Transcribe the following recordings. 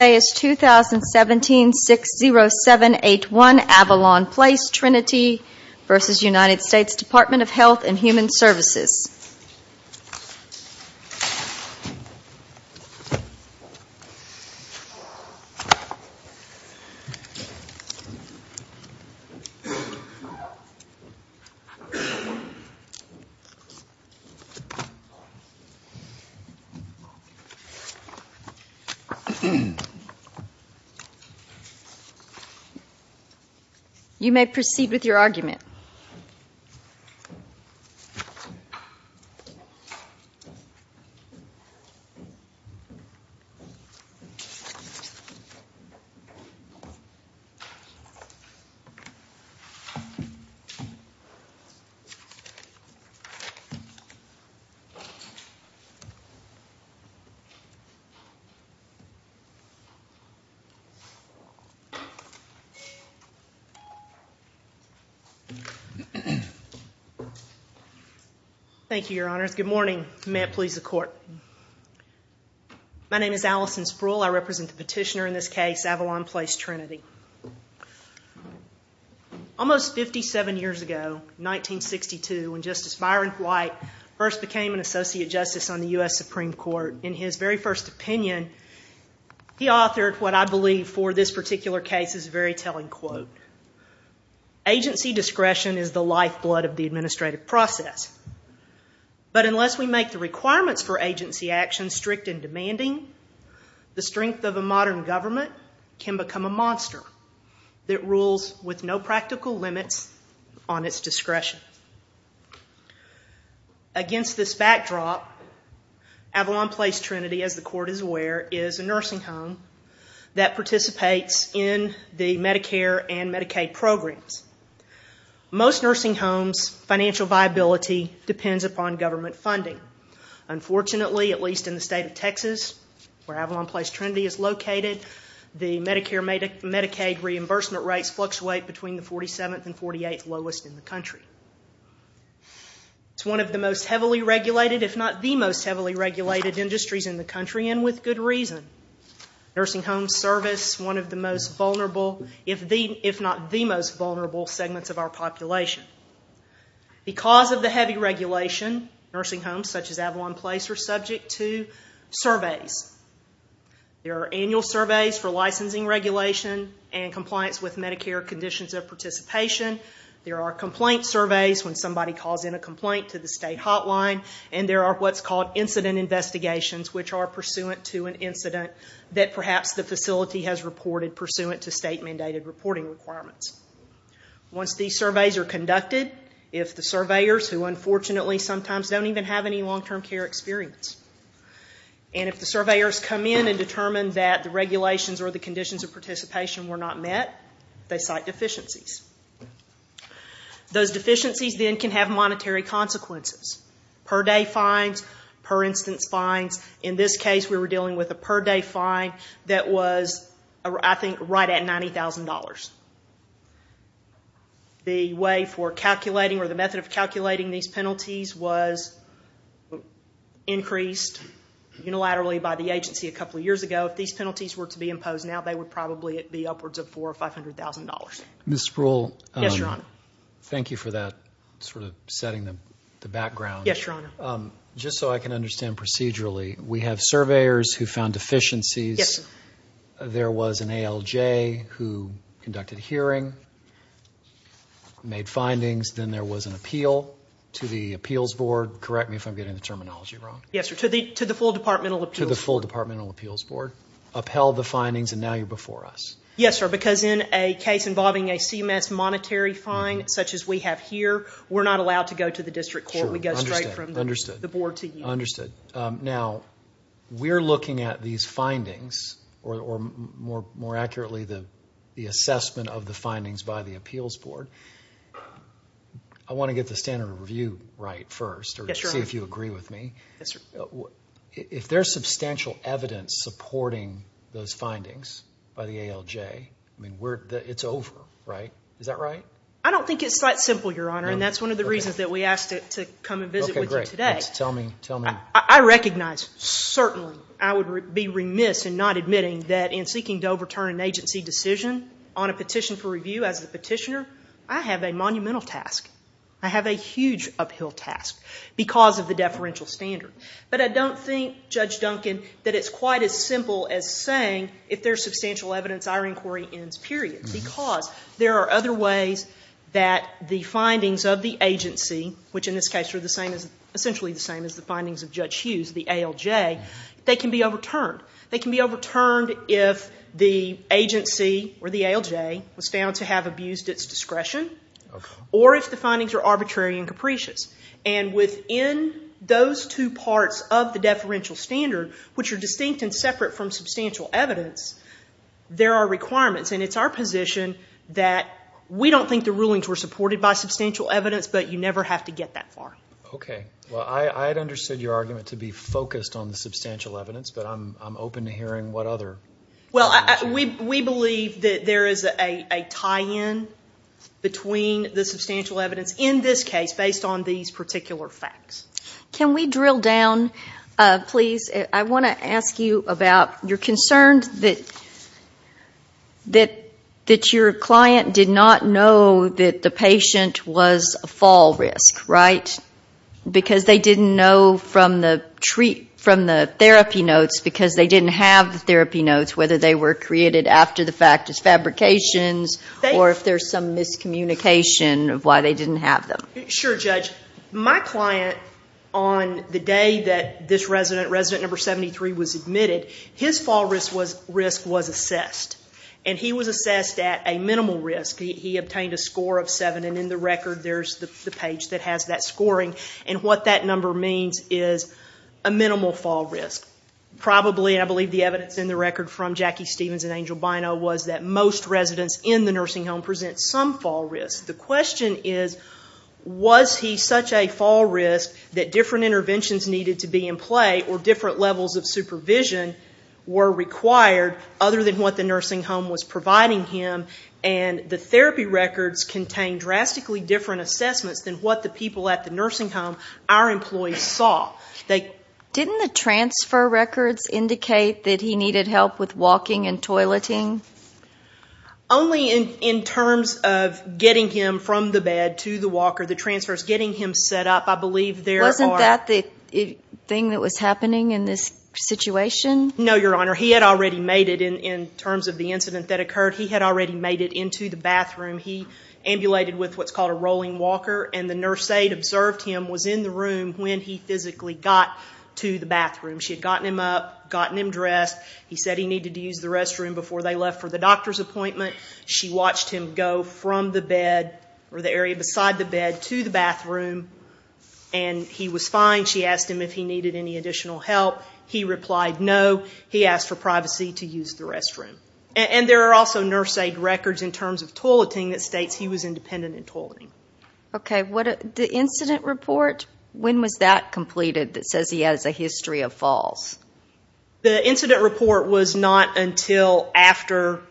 2017-60781 Avalon Place Trinity v. United States Department of Health and Human Services. You may proceed with your argument. Thank you, Your Honors. Good morning. May it please the Court. My name is Allison Spruill. I represent the petitioner in this case, Avalon Place Trinity. Almost 57 years ago, 1962, when Justice Byron White first became an Associate Justice on the U.S. Supreme Court, in his very first opinion, he authored what I believe for this particular case is a very telling quote. Agency discretion is the lifeblood of the administrative process. But unless we make the requirements for agency action strict and demanding, the strength of a modern government can become a monster that rules with no practical limits on its discretion. Against this backdrop, Avalon Place Trinity, as the Court is aware, is a nursing home that participates in the Medicare and Medicaid programs. Most nursing homes' financial viability depends upon government funding. Unfortunately, at least in the state of Texas, where Avalon Place Trinity is located, the Medicare and Medicaid reimbursement rates fluctuate between the 47th and 48th lowest in the country. It's one of the most heavily regulated, if not the most heavily regulated, industries in the country, and with good reason. Nursing home service, one of the most vulnerable, if not the most vulnerable, segments of our population. Because of the heavy regulation, nursing homes such as Avalon Place are subject to surveys. There are annual surveys for licensing regulation and compliance with Medicare conditions of participation. There are complaint surveys when somebody calls in a complaint to the state hotline. And there are what's called incident investigations, which are pursuant to an incident that perhaps the facility has reported, pursuant to state-mandated reporting requirements. Once these surveys are conducted, if the surveyors, who unfortunately sometimes don't even have any long-term care experience, and if the surveyors come in and determine that the regulations or the conditions of participation were not met, they cite deficiencies. Those deficiencies then can have monetary consequences. Per day fines, per instance fines. In this case, we were dealing with a per day fine that was, I think, right at $90,000. The way for calculating or the method of calculating these penalties was increased unilaterally by the agency a couple of years ago. If these penalties were to be imposed now, they would probably be upwards of $400,000 or $500,000. Ms. Sproul. Yes, Your Honor. Thank you for that sort of setting the background. Yes, Your Honor. Just so I can understand procedurally, we have surveyors who found deficiencies. Yes, sir. There was an ALJ who conducted a hearing, made findings. Then there was an appeal to the appeals board. Correct me if I'm getting the terminology wrong. Yes, sir, to the full departmental appeals board. To the full departmental appeals board. Upheld the findings, and now you're before us. Yes, sir, because in a case involving a CMS monetary fine, such as we have here, we're not allowed to go to the district court. Sure, understood. We go straight from the board to you. Understood. Now, we're looking at these findings, or more accurately, the assessment of the findings by the appeals board. I want to get the standard of review right first. Yes, Your Honor. See if you agree with me. Yes, sir. If there's substantial evidence supporting those findings by the ALJ, it's over, right? Is that right? I don't think it's that simple, Your Honor, and that's one of the reasons that we asked to come and visit with you today. Tell me, tell me. I recognize, certainly, I would be remiss in not admitting that in seeking to overturn an agency decision on a petition for review as a petitioner, I have a monumental task. I have a huge uphill task because of the deferential standard. But I don't think, Judge Duncan, that it's quite as simple as saying if there's substantial evidence, our inquiry ends, period, because there are other ways that the findings of the agency, which in this case are essentially the same as the findings of Judge Hughes, the ALJ, they can be overturned. They can be overturned if the agency or the ALJ was found to have abused its discretion or if the findings are arbitrary and capricious. And within those two parts of the deferential standard, which are distinct and separate from substantial evidence, there are requirements, and it's our position that we don't think the rulings were supported by substantial evidence, but you never have to get that far. Okay. Well, I had understood your argument to be focused on the substantial evidence, but I'm open to hearing what other. Well, we believe that there is a tie-in between the substantial evidence in this case based on these particular facts. Can we drill down, please? I want to ask you about you're concerned that your client did not know that the patient was a fall risk, right, because they didn't know from the therapy notes because they didn't have the therapy notes, whether they were created after the fact as fabrications or if there's some miscommunication of why they didn't have them. Sure, Judge. My client, on the day that this resident, resident number 73, was admitted, his fall risk was assessed, and he was assessed at a minimal risk. He obtained a score of 7, and in the record there's the page that has that scoring, and what that number means is a minimal fall risk. Probably, and I believe the evidence in the record from Jackie Stevens and Angel Bino was that most residents in the nursing home present some fall risk. The question is, was he such a fall risk that different interventions needed to be in play or different levels of supervision were required other than what the nursing home was providing him, and the therapy records contain drastically different assessments than what the people at the nursing home, our employees, saw. Didn't the transfer records indicate that he needed help with walking and toileting? Only in terms of getting him from the bed to the walker. The transfer is getting him set up. I believe there are- Wasn't that the thing that was happening in this situation? No, Your Honor. He had already made it in terms of the incident that occurred. He had already made it into the bathroom. He ambulated with what's called a rolling walker, and the nurse aide observed him was in the room when he physically got to the bathroom. She had gotten him up, gotten him dressed. He said he needed to use the restroom before they left for the doctor's appointment. She watched him go from the bed or the area beside the bed to the bathroom, and he was fine. She asked him if he needed any additional help. He replied no. He asked for privacy to use the restroom. And there are also nurse aide records in terms of toileting that states he was independent in toileting. Okay. The incident report, when was that completed that says he has a history of falls? The incident report was not until after,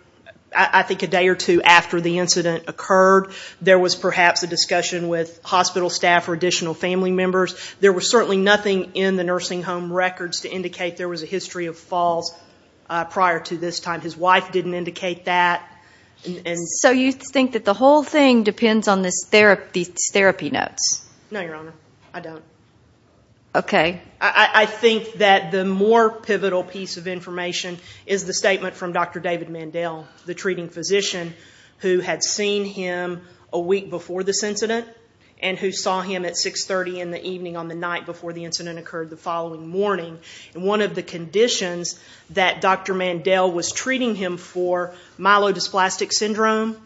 I think a day or two after the incident occurred. There was perhaps a discussion with hospital staff or additional family members. There was certainly nothing in the nursing home records to indicate there was a history of falls prior to this time. His wife didn't indicate that. So you think that the whole thing depends on these therapy notes? No, Your Honor. I don't. Okay. I think that the more pivotal piece of information is the statement from Dr. David Mandel, the treating physician who had seen him a week before this incident and who saw him at 6.30 in the evening on the night before the incident occurred the following morning. And one of the conditions that Dr. Mandel was treating him for, myelodysplastic syndrome,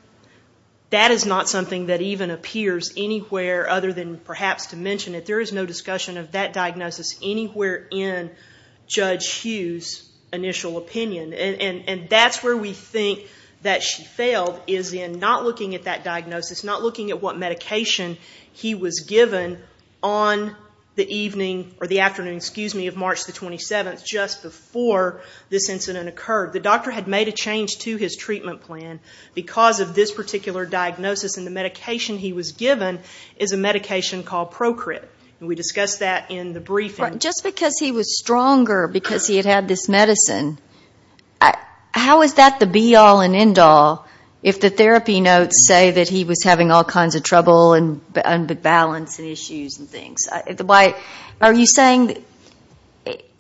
that is not something that even appears anywhere other than perhaps to mention it. We don't see that diagnosis anywhere in Judge Hughes' initial opinion. And that's where we think that she failed is in not looking at that diagnosis, not looking at what medication he was given on the evening or the afternoon, excuse me, of March the 27th, just before this incident occurred. The doctor had made a change to his treatment plan because of this particular diagnosis, and the medication he was given is a medication called Procrit. And we discussed that in the briefing. Just because he was stronger because he had had this medicine, how is that the be-all and end-all if the therapy notes say that he was having all kinds of trouble and balance and issues and things? Are you saying that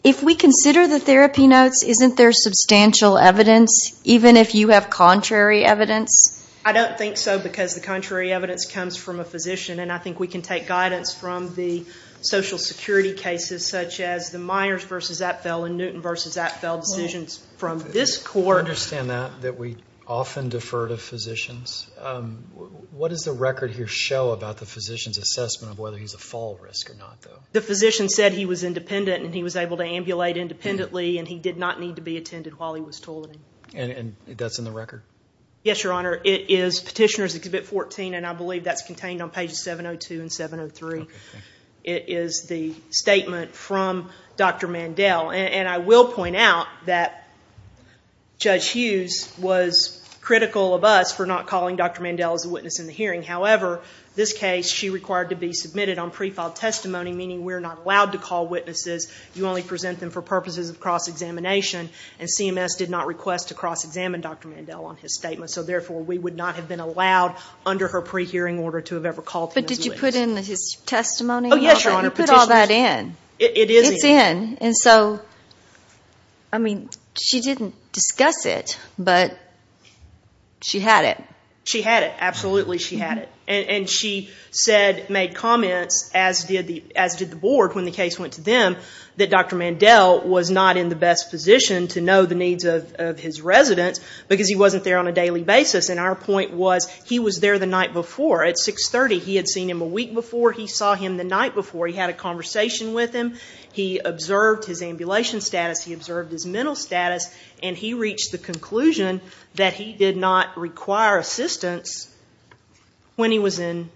if we consider the therapy notes, isn't there substantial evidence, even if you have contrary evidence? And I think we can take guidance from the Social Security cases, such as the Myers v. Apfel and Newton v. Apfel decisions from this court. I understand that, that we often defer to physicians. What does the record here show about the physician's assessment of whether he's a fall risk or not, though? The physician said he was independent and he was able to ambulate independently, and he did not need to be attended while he was toileting. And that's in the record? Yes, Your Honor. It is Petitioner's Exhibit 14, and I believe that's contained on pages 702 and 703. It is the statement from Dr. Mandel. And I will point out that Judge Hughes was critical of us for not calling Dr. Mandel as a witness in the hearing. However, this case she required to be submitted on pre-filed testimony, meaning we're not allowed to call witnesses. You only present them for purposes of cross-examination, and CMS did not request to cross-examine Dr. Mandel on his statement. So, therefore, we would not have been allowed under her pre-hearing order to have ever called him as a witness. But did you put in his testimony? Yes, Your Honor. Who put all that in? It is in. It's in. And so, I mean, she didn't discuss it, but she had it. She had it. Absolutely she had it. And she said, made comments, as did the board when the case went to them, that Dr. Mandel was not in the best position to know the needs of his residents because he wasn't there on a daily basis, and our point was he was there the night before. At 630, he had seen him a week before, he saw him the night before, he had a conversation with him, he observed his ambulation status, he observed his mental status, and he reached the conclusion that he did not require assistance when he was in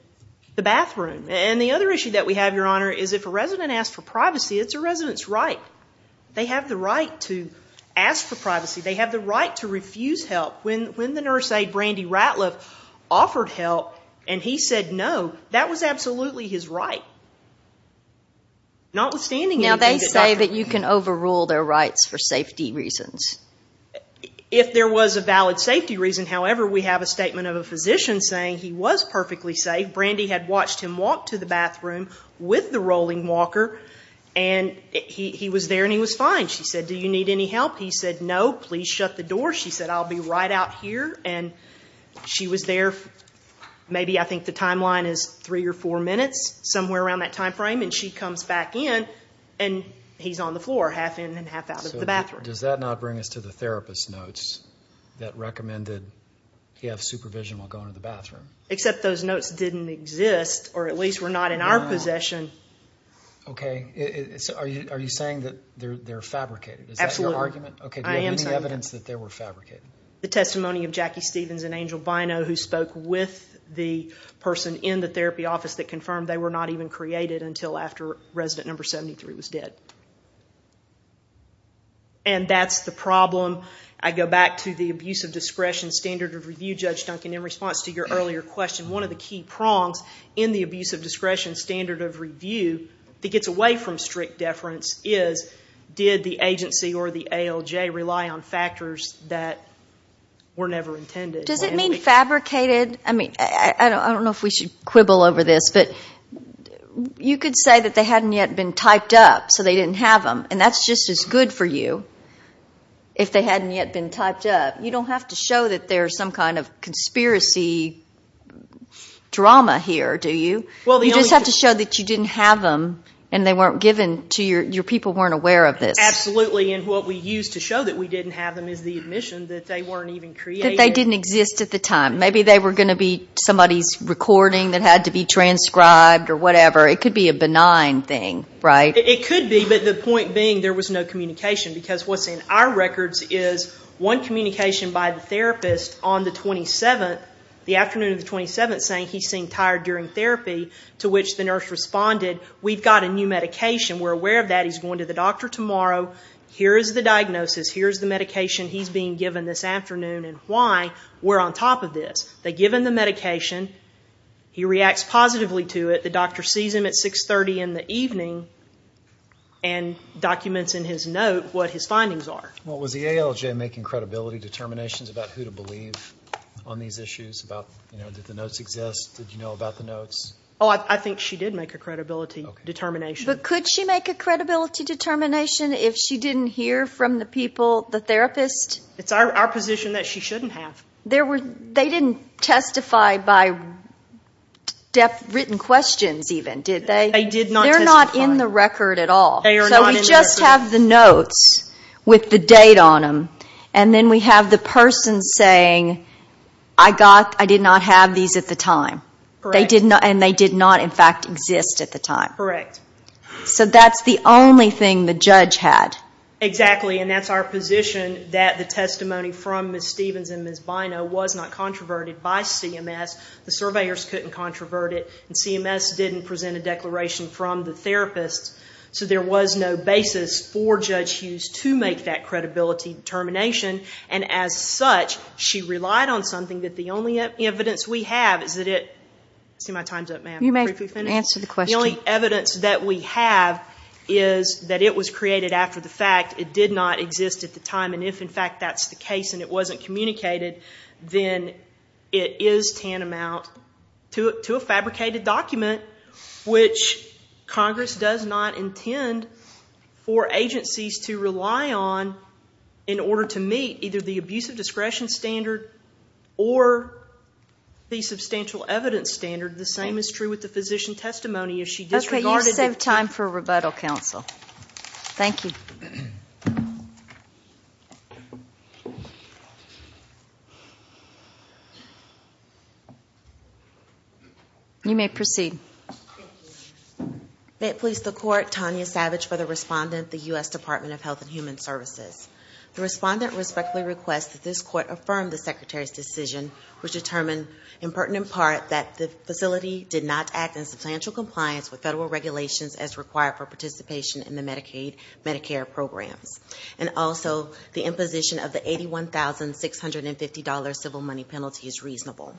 the bathroom. And the other issue that we have, Your Honor, is if a resident asks for privacy, it's a resident's right. They have the right to ask for privacy. They have the right to refuse help. When the nurse aide, Brandy Ratliff, offered help, and he said no, that was absolutely his right. Notwithstanding that he was a doctor. Now, they say that you can overrule their rights for safety reasons. If there was a valid safety reason. However, we have a statement of a physician saying he was perfectly safe. Brandy had watched him walk to the bathroom with the rolling walker, and he was there and he was fine. She said, do you need any help? He said, no, please shut the door. She said, I'll be right out here. And she was there, maybe I think the timeline is three or four minutes, somewhere around that time frame. And she comes back in, and he's on the floor, half in and half out of the bathroom. Does that not bring us to the therapist notes that recommended he have supervision while going to the bathroom? Except those notes didn't exist, or at least were not in our possession. Okay. Are you saying that they're fabricated? Absolutely. Is that your argument? I am saying that. Okay. Do you have any evidence that they were fabricated? The testimony of Jackie Stevens and Angel Bino, who spoke with the person in the therapy office, that confirmed they were not even created until after resident number 73 was dead. And that's the problem. I go back to the abuse of discretion standard of review, Judge Duncan. In response to your earlier question, one of the key prongs in the abuse of discretion standard of review that gets away from strict deference is, did the agency or the ALJ rely on factors that were never intended? Does it mean fabricated? I don't know if we should quibble over this, but you could say that they hadn't yet been typed up, so they didn't have them, and that's just as good for you if they hadn't yet been typed up. You don't have to show that there's some kind of conspiracy drama here, do you? You just have to show that you didn't have them, and your people weren't aware of this. Absolutely, and what we use to show that we didn't have them is the admission that they weren't even created. That they didn't exist at the time. Maybe they were going to be somebody's recording that had to be transcribed or whatever. It could be a benign thing, right? It could be, but the point being there was no communication, because what's in our records is one communication by the therapist on the 27th, the afternoon of the 27th, saying he seemed tired during therapy, to which the nurse responded, we've got a new medication. We're aware of that. He's going to the doctor tomorrow. Here is the diagnosis. Here is the medication he's being given this afternoon, and why we're on top of this. They give him the medication. He reacts positively to it. The doctor sees him at 630 in the evening and documents in his note what his findings are. Was the ALJ making credibility determinations about who to believe on these issues? Did the notes exist? Did you know about the notes? I think she did make a credibility determination. But could she make a credibility determination if she didn't hear from the people, the therapist? It's our position that she shouldn't have. They didn't testify by written questions even, did they? They did not testify. They're not in the record at all. They are not in the record. So we just have the notes with the date on them, and then we have the person saying, I did not have these at the time, and they did not, in fact, exist at the time. Correct. So that's the only thing the judge had. Exactly, and that's our position that the testimony from Ms. Stevens and Ms. Bino was not controverted by CMS. The surveyors couldn't controvert it, and CMS didn't present a declaration from the therapists. So there was no basis for Judge Hughes to make that credibility determination, and as such, she relied on something that the only evidence we have is that it ‑‑ see, my time's up, ma'am. You may answer the question. The only evidence that we have is that it was created after the fact. It did not exist at the time, and if, in fact, that's the case and it wasn't communicated, then it is tantamount to a fabricated document, which Congress does not intend for agencies to rely on in order to meet either the abuse of discretion standard or the substantial evidence standard. The same is true with the physician testimony. Okay, you save time for rebuttal, counsel. Thank you. You may proceed. May it please the Court, Tanya Savage for the respondent, the U.S. Department of Health and Human Services. The respondent respectfully requests that this Court affirm the Secretary's decision, which determined, in pertinent part, that the facility did not act in substantial compliance with federal regulations as required for participation in the Medicaid, Medicare programs, and also the imposition of the $81,650 civil money penalty is reasonable.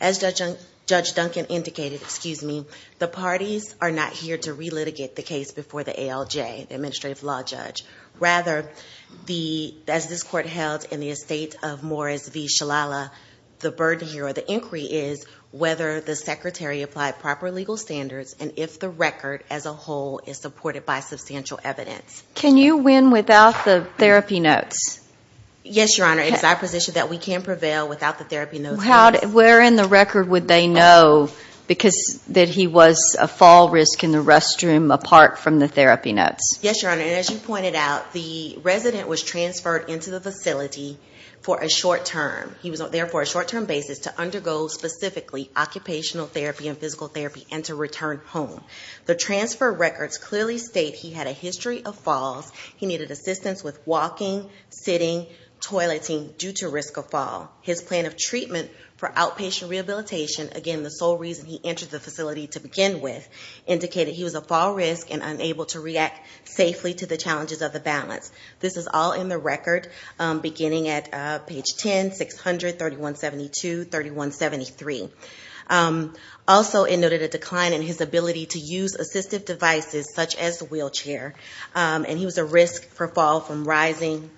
As Judge Duncan indicated, the parties are not here to relitigate the case before the ALJ, the Administrative Law Judge. Rather, as this Court held in the estate of Morris v. Shalala, the burden here or the inquiry is whether the Secretary applied proper legal standards and if the record as a whole is supported by substantial evidence. Can you win without the therapy notes? Yes, Your Honor, it is our position that we can prevail without the therapy notes. Where in the record would they know that he was a fall risk in the restroom apart from the therapy notes? Yes, Your Honor, and as you pointed out, the resident was transferred into the facility for a short term. He was there for a short-term basis to undergo specifically occupational therapy and physical therapy and to return home. The transfer records clearly state he had a history of falls. He needed assistance with walking, sitting, toileting due to risk of fall. His plan of treatment for outpatient rehabilitation, again, the sole reason he entered the facility to begin with, indicated he was a fall risk and unable to react safely to the challenges of the balance. This is all in the record beginning at page 10, 600, 3172, 3173. Also it noted a decline in his ability to use assistive devices such as a wheelchair, and he was a risk for fall when rising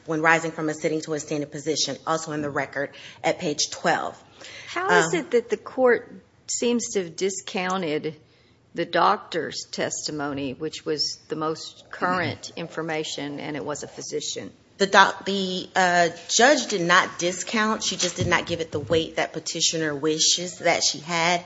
from a sitting to a standing position, also in the record at page 12. How is it that the court seems to have discounted the doctor's testimony, which was the most current information and it was a physician? The judge did not discount. She just did not give it the weight that petitioner wishes that she had.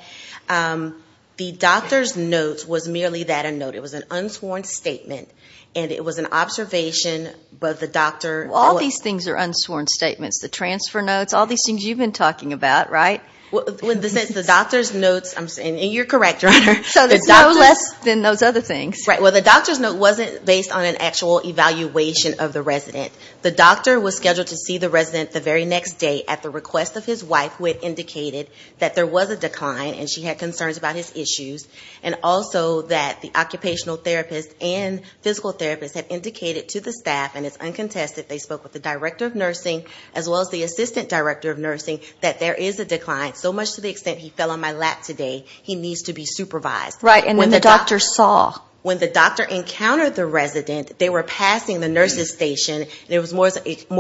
The doctor's notes was merely that a note. It was an unsworn statement, and it was an observation of the doctor. Well, all these things are unsworn statements, the transfer notes, all these things you've been talking about, right? The doctor's notes, and you're correct, Your Honor. So there's no less than those other things. Well, the doctor's note wasn't based on an actual evaluation of the resident. The doctor was scheduled to see the resident the very next day at the request of his wife, who had indicated that there was a decline and she had concerns about his issues, and also that the occupational therapist and physical therapist had indicated to the staff, and it's uncontested, they spoke with the director of nursing as well as the assistant director of nursing, that there is a decline, so much to the extent he fell on my lap today. He needs to be supervised. Right, and when the doctor saw? They were passing the nurse's station, and it was more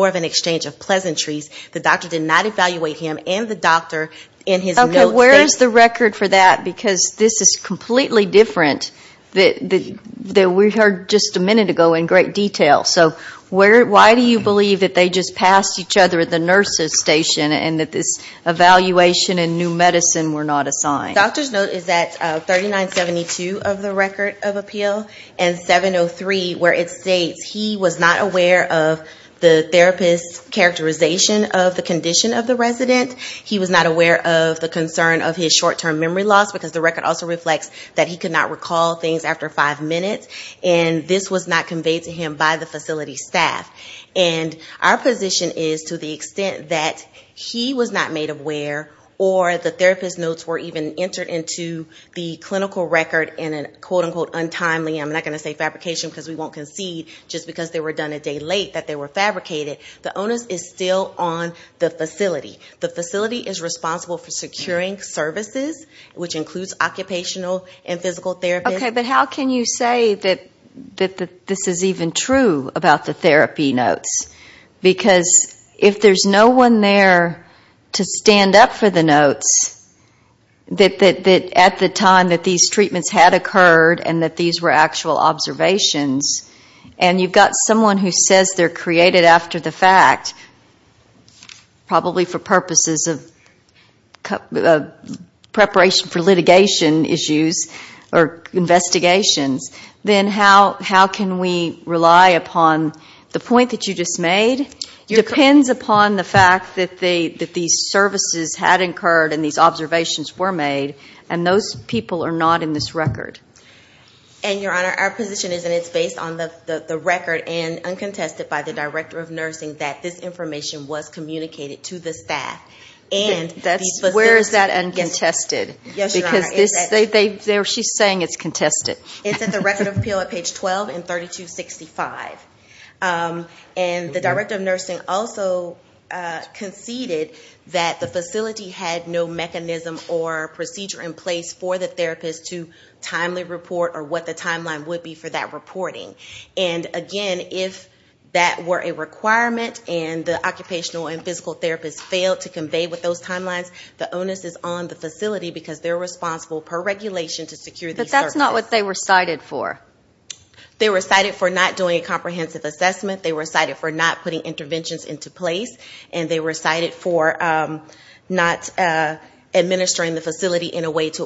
of an exchange of pleasantries. The doctor did not evaluate him and the doctor in his notes. Okay, where is the record for that? Because this is completely different than we heard just a minute ago in great detail. So why do you believe that they just passed each other at the nurse's station and that this evaluation and new medicine were not assigned? The doctor's note is at 3972 of the record of appeal and 703, where it states he was not aware of the therapist's characterization of the condition of the resident. He was not aware of the concern of his short-term memory loss, because the record also reflects that he could not recall things after five minutes, and this was not conveyed to him by the facility staff. And our position is to the extent that he was not made aware or the therapist's notes were even entered into the clinical record in a quote-unquote untimely, I'm not going to say fabrication because we won't concede, just because they were done a day late that they were fabricated, the onus is still on the facility. The facility is responsible for securing services, which includes occupational and physical therapy. Okay, but how can you say that this is even true about the therapy notes? Because if there's no one there to stand up for the notes, that at the time that these treatments had occurred and that these were actual observations, and you've got someone who says they're created after the fact, probably for purposes of preparation for litigation issues or investigations, then how can we rely upon the point that you just made? It depends upon the fact that these services had occurred and these observations were made, and those people are not in this record. And, Your Honor, our position is that it's based on the record and uncontested by the Director of Nursing that this information was communicated to the staff. Where is that uncontested? Yes, Your Honor. She's saying it's contested. It's at the Record of Appeal at page 12 in 3265. And the Director of Nursing also conceded that the facility had no mechanism or procedure in place for the therapist to timely report or what the timeline would be for that reporting. And, again, if that were a requirement and the occupational and physical therapist failed to convey with those timelines, the onus is on the facility because they're responsible per regulation to secure these services. But that's not what they were cited for. They were cited for not doing a comprehensive assessment. They were cited for not putting interventions into place. And they were cited for not administering the facility in a way to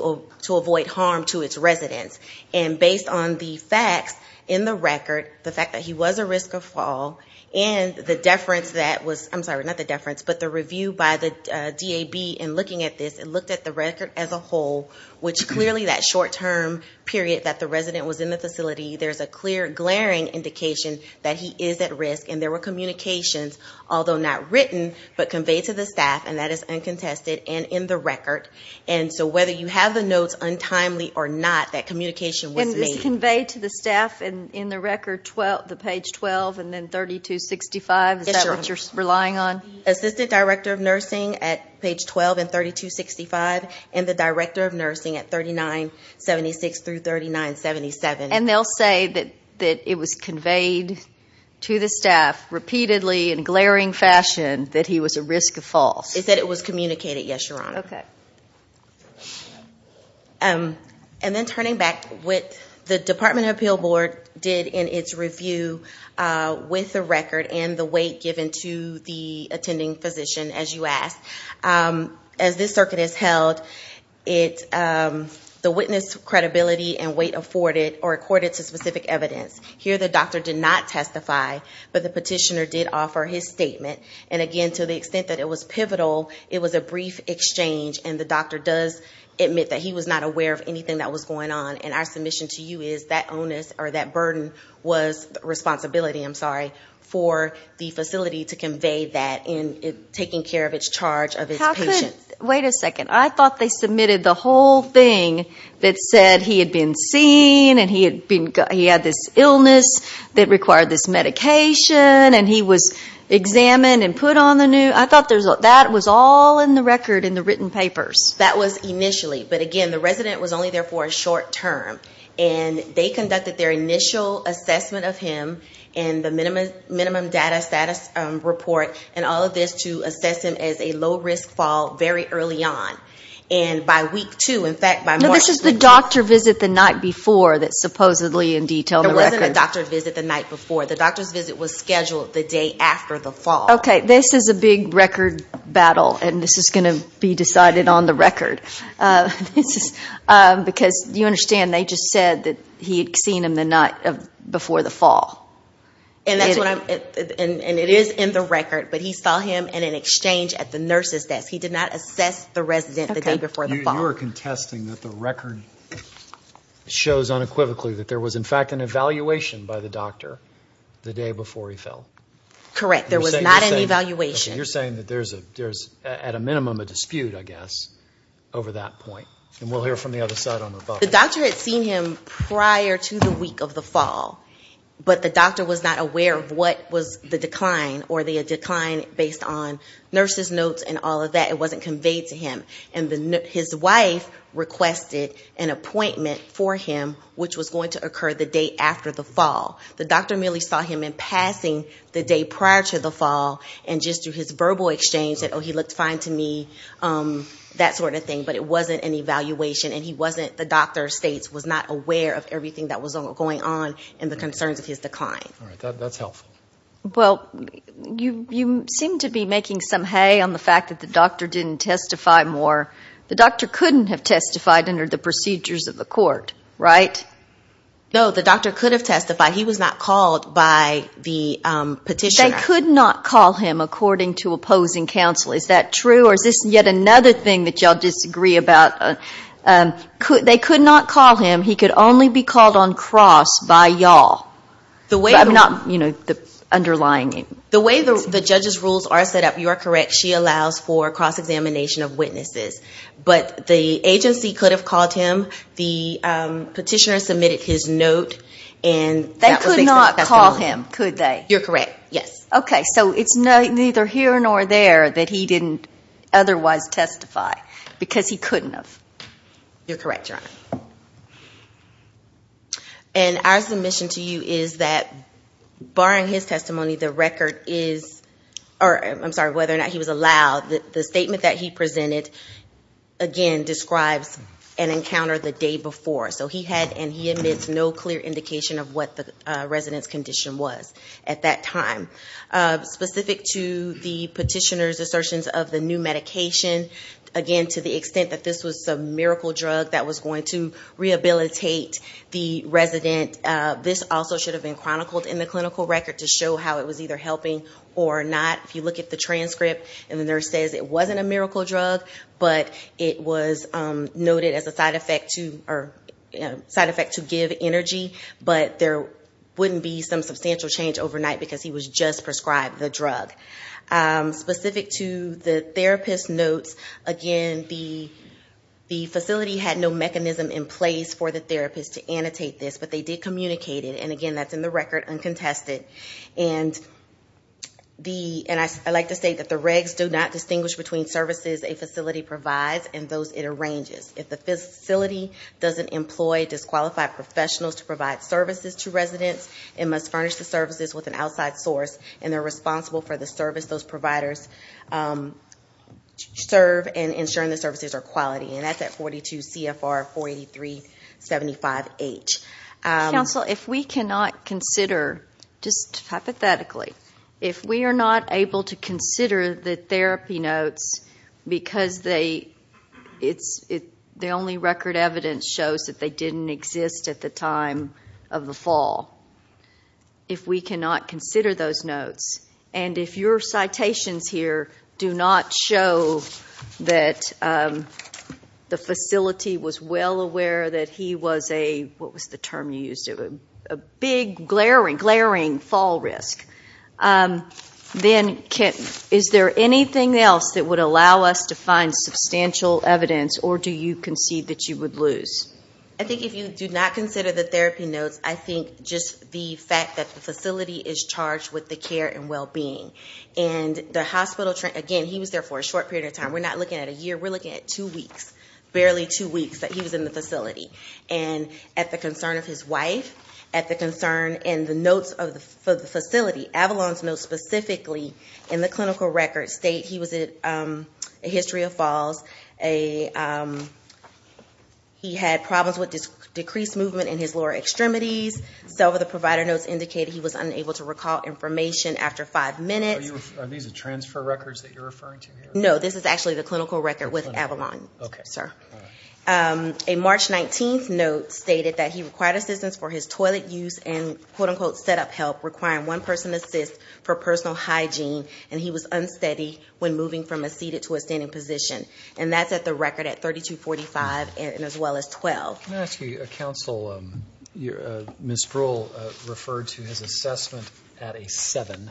avoid harm to its residents. And based on the facts in the record, the fact that he was a risk of fall, and the deference that was ñ I'm sorry, not the deference, but the review by the DAB in looking at this, it looked at the record as a whole, which clearly that short-term period that the resident was in the facility, there's a clear glaring indication that he is at risk. And there were communications, although not written, but conveyed to the staff, and that is uncontested and in the record. And so whether you have the notes untimely or not, that communication was made. It was conveyed to the staff in the record, the page 12 and then 3265? Yes, Your Honor. Is that what you're relying on? Assistant Director of Nursing at page 12 and 3265, and the Director of Nursing at 3976 through 3977. And they'll say that it was conveyed to the staff repeatedly in a glaring fashion that he was a risk of fall. They said it was communicated, yes, Your Honor. Okay. And then turning back, what the Department of Appeal Board did in its review with the record and the weight given to the attending physician, as you asked, as this circuit is held, the witness credibility and weight afforded or accorded to specific evidence. Here the doctor did not testify, but the petitioner did offer his statement. And again, to the extent that it was pivotal, it was a brief exchange, and the doctor does admit that he was not aware of anything that was going on. And our submission to you is that onus or that burden was responsibility, I'm sorry, for the facility to convey that in taking care of its charge of its patient. Wait a second. I thought they submitted the whole thing that said he had been seen and he had this illness that required this medication and he was examined and put on the new. I thought that was all in the record in the written papers. That was initially. But again, the resident was only there for a short term. And they conducted their initial assessment of him and the minimum data status report and all of this to assess him as a low-risk fall very early on. And by week two, in fact, by March. No, this is the doctor visit the night before that's supposedly in detail in the record. There wasn't a doctor visit the night before. The doctor's visit was scheduled the day after the fall. Okay. This is a big record battle. And this is going to be decided on the record. Because you understand they just said that he had seen him the night before the fall. And it is in the record. But he saw him in an exchange at the nurse's desk. He did not assess the resident the day before the fall. You are contesting that the record shows unequivocally that there was, in fact, an evaluation by the doctor the day before he fell. Correct. There was not an evaluation. You're saying that there's at a minimum a dispute, I guess, over that point. And we'll hear from the other side on that. The doctor had seen him prior to the week of the fall. But the doctor was not aware of what was the decline. Were they a decline based on nurse's notes and all of that? It wasn't conveyed to him. And his wife requested an appointment for him, which was going to occur the day after the fall. The doctor merely saw him in passing the day prior to the fall, and just through his verbal exchange said, oh, he looked fine to me, that sort of thing. But it wasn't an evaluation, and he wasn't, the doctor states, was not aware of everything that was going on and the concerns of his decline. All right. That's helpful. Well, you seem to be making some hay on the fact that the doctor didn't testify more. The doctor couldn't have testified under the procedures of the court, right? No, the doctor could have testified. He was not called by the petitioner. They could not call him according to opposing counsel. Is that true, or is this yet another thing that y'all disagree about? They could not call him. He could only be called on cross by y'all. I'm not, you know, underlying it. The way the judge's rules are set up, you are correct. She allows for cross-examination of witnesses. But the agency could have called him. The petitioner submitted his note. They could not call him, could they? You're correct, yes. Okay. So it's neither here nor there that he didn't otherwise testify because he couldn't have. You're correct, Your Honor. And our submission to you is that barring his testimony, the record is, or I'm sorry, whether or not he was allowed, the statement that he presented, again, describes an encounter the day before. So he had and he admits no clear indication of what the resident's condition was at that time. Specific to the petitioner's assertions of the new medication, again, to the extent that this was a miracle drug that was going to rehabilitate the resident, this also should have been chronicled in the clinical record to show how it was either helping or not. If you look at the transcript and the nurse says it wasn't a miracle drug, but it was noted as a side effect to give energy, but there wouldn't be some substantial change overnight because he was just prescribed the drug. Specific to the therapist's notes, again, the facility had no mechanism in place for the therapist to annotate this, but they did communicate it. And, again, that's in the record uncontested. And I like to say that the regs do not distinguish between services a facility provides and those it arranges. If the facility doesn't employ disqualified professionals to provide services to residents, it must furnish the services with an outside source, and they're responsible for the service those providers serve and ensuring the services are quality. And that's at 42 CFR 48375H. Counsel, if we cannot consider, just hypothetically, if we are not able to consider the therapy notes because the only record evidence shows that they didn't exist at the time of the fall, if we cannot consider those notes, and if your citations here do not show that the facility was well aware that he was a, what was the term you used, a big, glaring, glaring fall risk, then is there anything else that would allow us to find substantial evidence, or do you concede that you would lose? I think if you do not consider the therapy notes, I think just the fact that the facility is charged with the care and well-being. And the hospital, again, he was there for a short period of time. We're not looking at a year. We're looking at two weeks, barely two weeks that he was in the facility. And at the concern of his wife, at the concern and the notes of the facility, Avalon's notes specifically in the clinical record state he was at a history of falls. He had problems with decreased movement in his lower extremities. Several of the provider notes indicated he was unable to recall information after five minutes. Are these the transfer records that you're referring to here? No, this is actually the clinical record with Avalon, sir. A March 19th note stated that he required assistance for his toilet use and, quote-unquote, set-up help requiring one-person assist for personal hygiene, and he was unsteady when moving from a seated to a standing position. And that's at the record at 3245 and as well as 12. Can I ask you, counsel, Ms. Brewer referred to his assessment at a seven.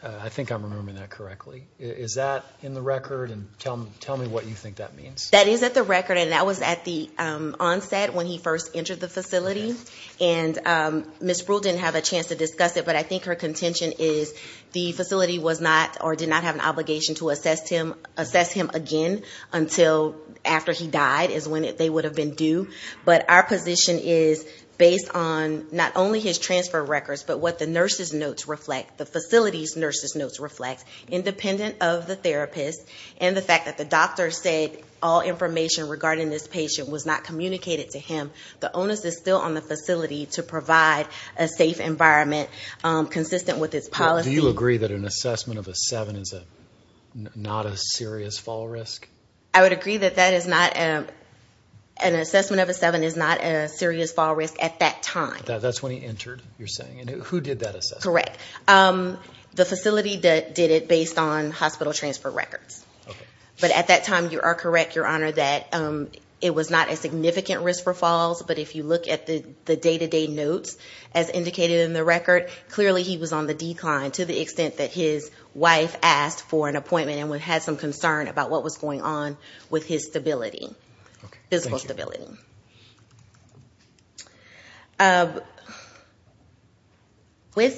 I think I'm remembering that correctly. Is that in the record? And tell me what you think that means. That is at the record, and that was at the onset when he first entered the facility. And Ms. Brewer didn't have a chance to discuss it, but I think her contention is the facility was not or did not have an obligation to assess him again until after he died is when they would have been due. But our position is based on not only his transfer records but what the nurse's notes reflect, the facility's nurse's notes reflect, independent of the therapist and the fact that the doctor said all information regarding this patient was not communicated to him. The onus is still on the facility to provide a safe environment consistent with its policy. Do you agree that an assessment of a seven is not a serious fall risk? I would agree that an assessment of a seven is not a serious fall risk at that time. That's when he entered, you're saying? And who did that assessment? Correct. The facility did it based on hospital transfer records. But at that time you are correct, Your Honor, that it was not a significant risk for falls, but if you look at the day-to-day notes as indicated in the record, clearly he was on the decline to the extent that his wife asked for an appointment and had some concern about what was going on with his stability, physical stability. With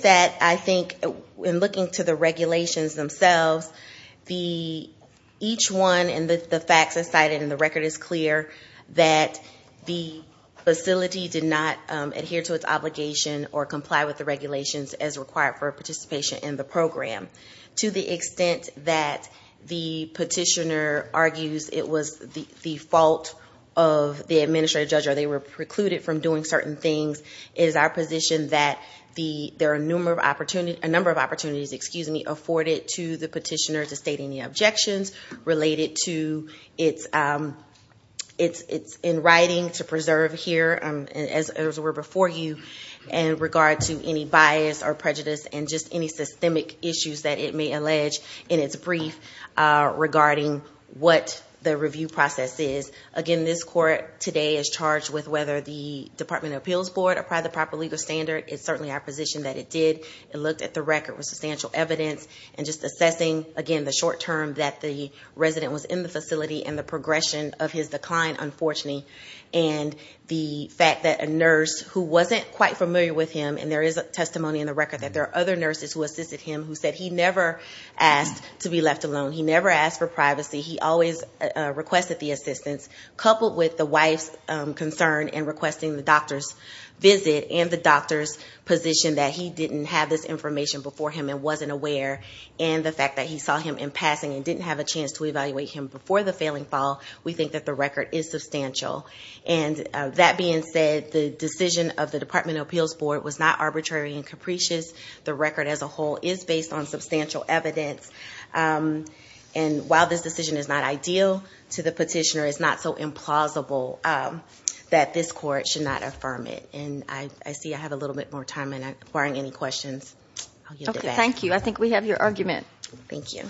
that, I think in looking to the regulations themselves, each one and the facts cited in the record is clear that the facility did not adhere to its obligation or comply with the regulations as required for participation in the program to the extent that the petitioner argues it was the fault of the administrator or they were precluded from doing certain things. It is our position that there are a number of opportunities afforded to the petitioner to state any objections related to its in writing to preserve here, as were before you, in regard to any bias or prejudice and just any systemic issues that it may allege in its brief regarding what the review process is. Again, this court today is charged with whether the Department of Appeals Board applied the proper legal standard. It's certainly our position that it did. It looked at the record with substantial evidence and just assessing, again, the short term that the resident was in the facility and the progression of his decline, unfortunately, and the fact that a nurse who wasn't quite familiar with him, and there is a testimony in the record that there are other nurses who assisted him He never asked for privacy. He always requested the assistance. Coupled with the wife's concern in requesting the doctor's visit and the doctor's position that he didn't have this information before him and wasn't aware, and the fact that he saw him in passing and didn't have a chance to evaluate him before the failing fall, we think that the record is substantial. That being said, the decision of the Department of Appeals Board was not arbitrary and capricious. The record as a whole is based on substantial evidence. And while this decision is not ideal to the petitioner, it's not so implausible that this court should not affirm it. And I see I have a little bit more time and I'm acquiring any questions. Okay, thank you. I think we have your argument. Thank you.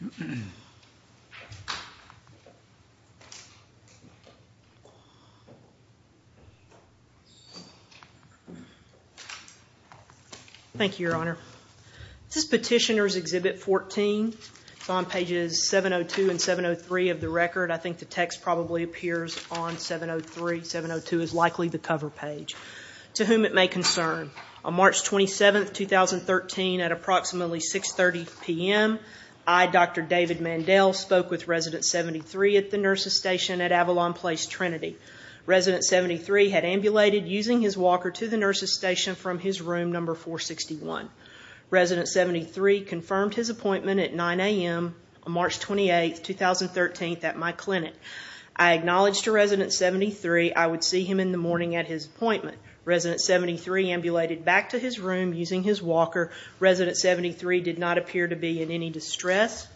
Thank you. Thank you, Your Honor. This is Petitioner's Exhibit 14. It's on pages 702 and 703 of the record. I think the text probably appears on 703. 702 is likely the cover page. To whom it may concern, On March 27, 2013, at approximately 6.30 p.m., I, Dr. David Mandel, spoke with Resident 73 at the nurse's station at Avalon Place, Trinity. Resident 73 had ambulated using his walker to the nurse's station from his room number 461. Resident 73 confirmed his appointment at 9 a.m. on March 28, 2013, at my clinic. I acknowledged to Resident 73 I would see him in the morning at his appointment. Resident 73 ambulated back to his room using his walker. Resident 73 did not appear to be in any distress.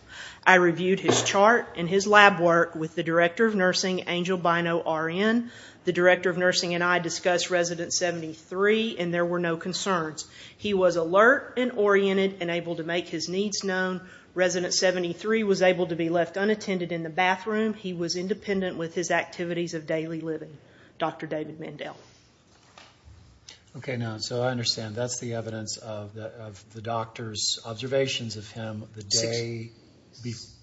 I reviewed his chart and his lab work with the Director of Nursing, Angel Bino, RN. The Director of Nursing and I discussed Resident 73, and there were no concerns. He was alert and oriented and able to make his needs known. Resident 73 was able to be left unattended in the bathroom. He was independent with his activities of daily living. Dr. David Mandel. Okay, now, so I understand that's the evidence of the doctor's observations of him the day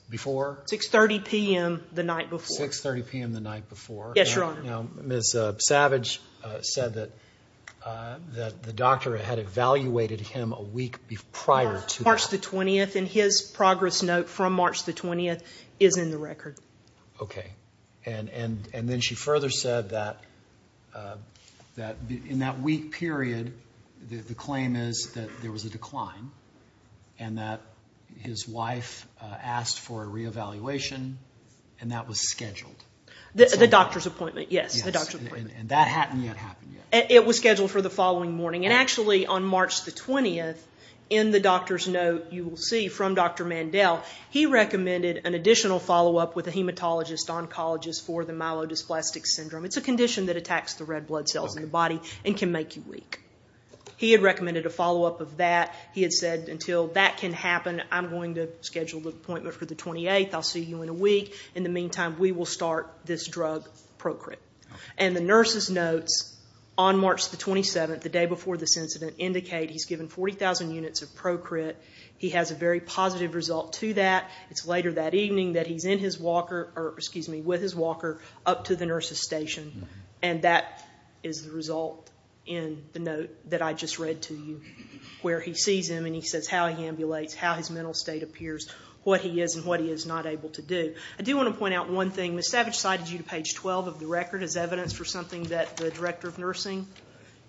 before? 6.30 p.m. the night before. 6.30 p.m. the night before. Yes, Your Honor. Now, Ms. Savage said that the doctor had evaluated him a week prior to that. March the 20th, and his progress note from March the 20th is in the record. Okay, and then she further said that in that week period, the claim is that there was a decline and that his wife asked for a reevaluation, and that was scheduled. The doctor's appointment, yes, the doctor's appointment. Yes, and that hadn't yet happened yet. It was scheduled for the following morning, and actually on March the 20th, in the doctor's note you will see from Dr. Mandel, he recommended an additional follow-up with a hematologist oncologist for the myelodysplastic syndrome. It's a condition that attacks the red blood cells in the body and can make you weak. He had recommended a follow-up of that. He had said until that can happen, I'm going to schedule the appointment for the 28th. I'll see you in a week. In the meantime, we will start this drug Procrit. And the nurse's notes on March the 27th, the day before this incident, indicate he's given 40,000 units of Procrit. He has a very positive result to that. It's later that evening that he's with his walker up to the nurse's station, and that is the result in the note that I just read to you, where he sees him and he says how he ambulates, how his mental state appears, what he is and what he is not able to do. I do want to point out one thing. Ms. Savage cited you to page 12 of the record as evidence for something that the director of nursing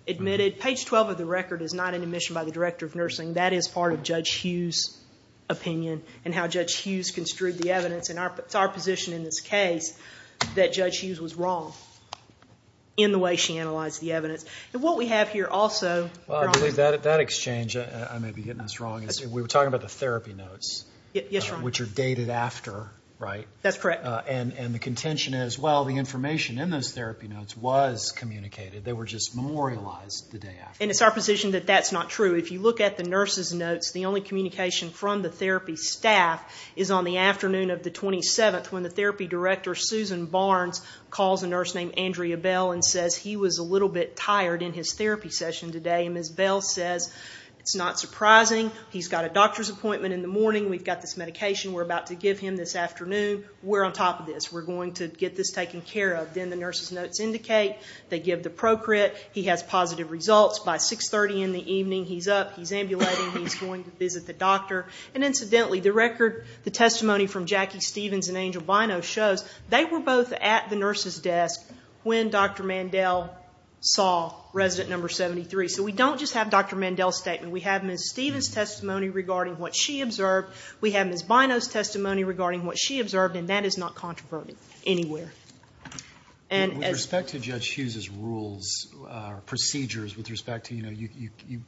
admitted. Page 12 of the record is not an admission by the director of nursing. That is part of Judge Hughes' opinion and how Judge Hughes construed the evidence. It's our position in this case that Judge Hughes was wrong in the way she analyzed the evidence. And what we have here also, Ron. Well, I believe that exchange, I may be getting this wrong, is we were talking about the therapy notes, which are dated after, right? That's correct. And the contention is, well, the information in those therapy notes was communicated. They were just memorialized the day after. And it's our position that that's not true. If you look at the nurses' notes, the only communication from the therapy staff is on the afternoon of the 27th, when the therapy director, Susan Barnes, calls a nurse named Andrea Bell and says he was a little bit tired in his therapy session today. And Ms. Bell says, it's not surprising. He's got a doctor's appointment in the morning. We've got this medication we're about to give him this afternoon. We're on top of this. We're going to get this taken care of. Then the nurses' notes indicate they give the Procrit. He has positive results. By 6.30 in the evening, he's up. He's ambulating. He's going to visit the doctor. And incidentally, the record, the testimony from Jackie Stevens and Angel Binos shows they were both at the nurse's desk when Dr. Mandel saw resident number 73. So we don't just have Dr. Mandel's statement. We have Ms. Stevens' testimony regarding what she observed. We have Ms. Binos' testimony regarding what she observed. And that is not controversial anywhere. With respect to Judge Hughes' rules, procedures, with respect to, you know,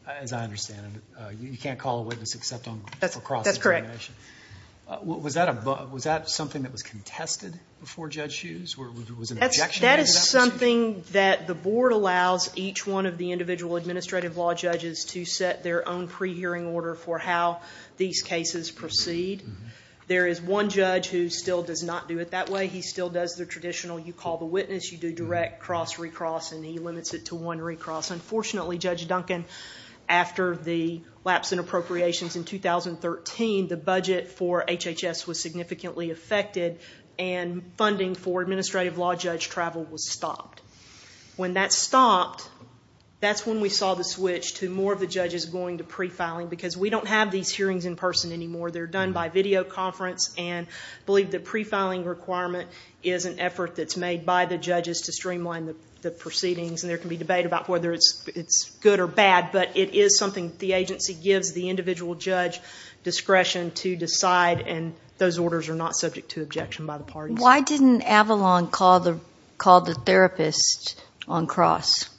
as I understand it, you can't call a witness except on Procrit. That's correct. Was that something that was contested before Judge Hughes? That is something that the board allows each one of the individual administrative law judges to set their own pre-hearing order for how these cases proceed. There is one judge who still does not do it that way. He still does the traditional you call the witness, you do direct cross-re-cross, and he limits it to one re-cross. Unfortunately, Judge Duncan, after the lapse in appropriations in 2013, the budget for HHS was significantly affected and funding for administrative law judge travel was stopped. When that stopped, that's when we saw the switch to more of the judges going to pre-filing because we don't have these hearings in person anymore. They're done by video conference and believe the pre-filing requirement is an effort that's made by the judges to streamline the proceedings. And there can be debate about whether it's good or bad, but it is something the agency gives the individual judge discretion to decide, and those orders are not subject to objection by the parties. Why didn't Avalon call the therapist on cross?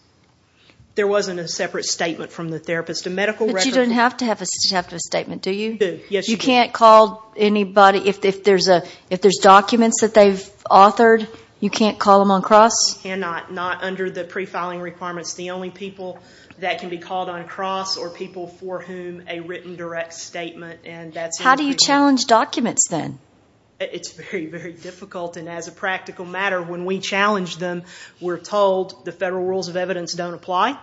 There wasn't a separate statement from the therapist. But you don't have to have a statement, do you? Yes, you do. You can't call anybody if there's documents that they've authored? You can't call them on cross? You cannot, not under the pre-filing requirements. The only people that can be called on cross are people for whom a written direct statement. How do you challenge documents then? It's very, very difficult, and as a practical matter, when we challenge them, we're told the federal rules of evidence don't apply.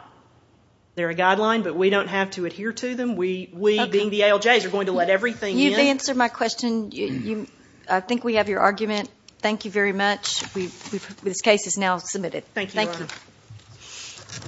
They're a guideline, but we don't have to adhere to them. We, being the ALJs, are going to let everything in. You've answered my question. I think we have your argument. Thank you very much. Thank you. Thank you.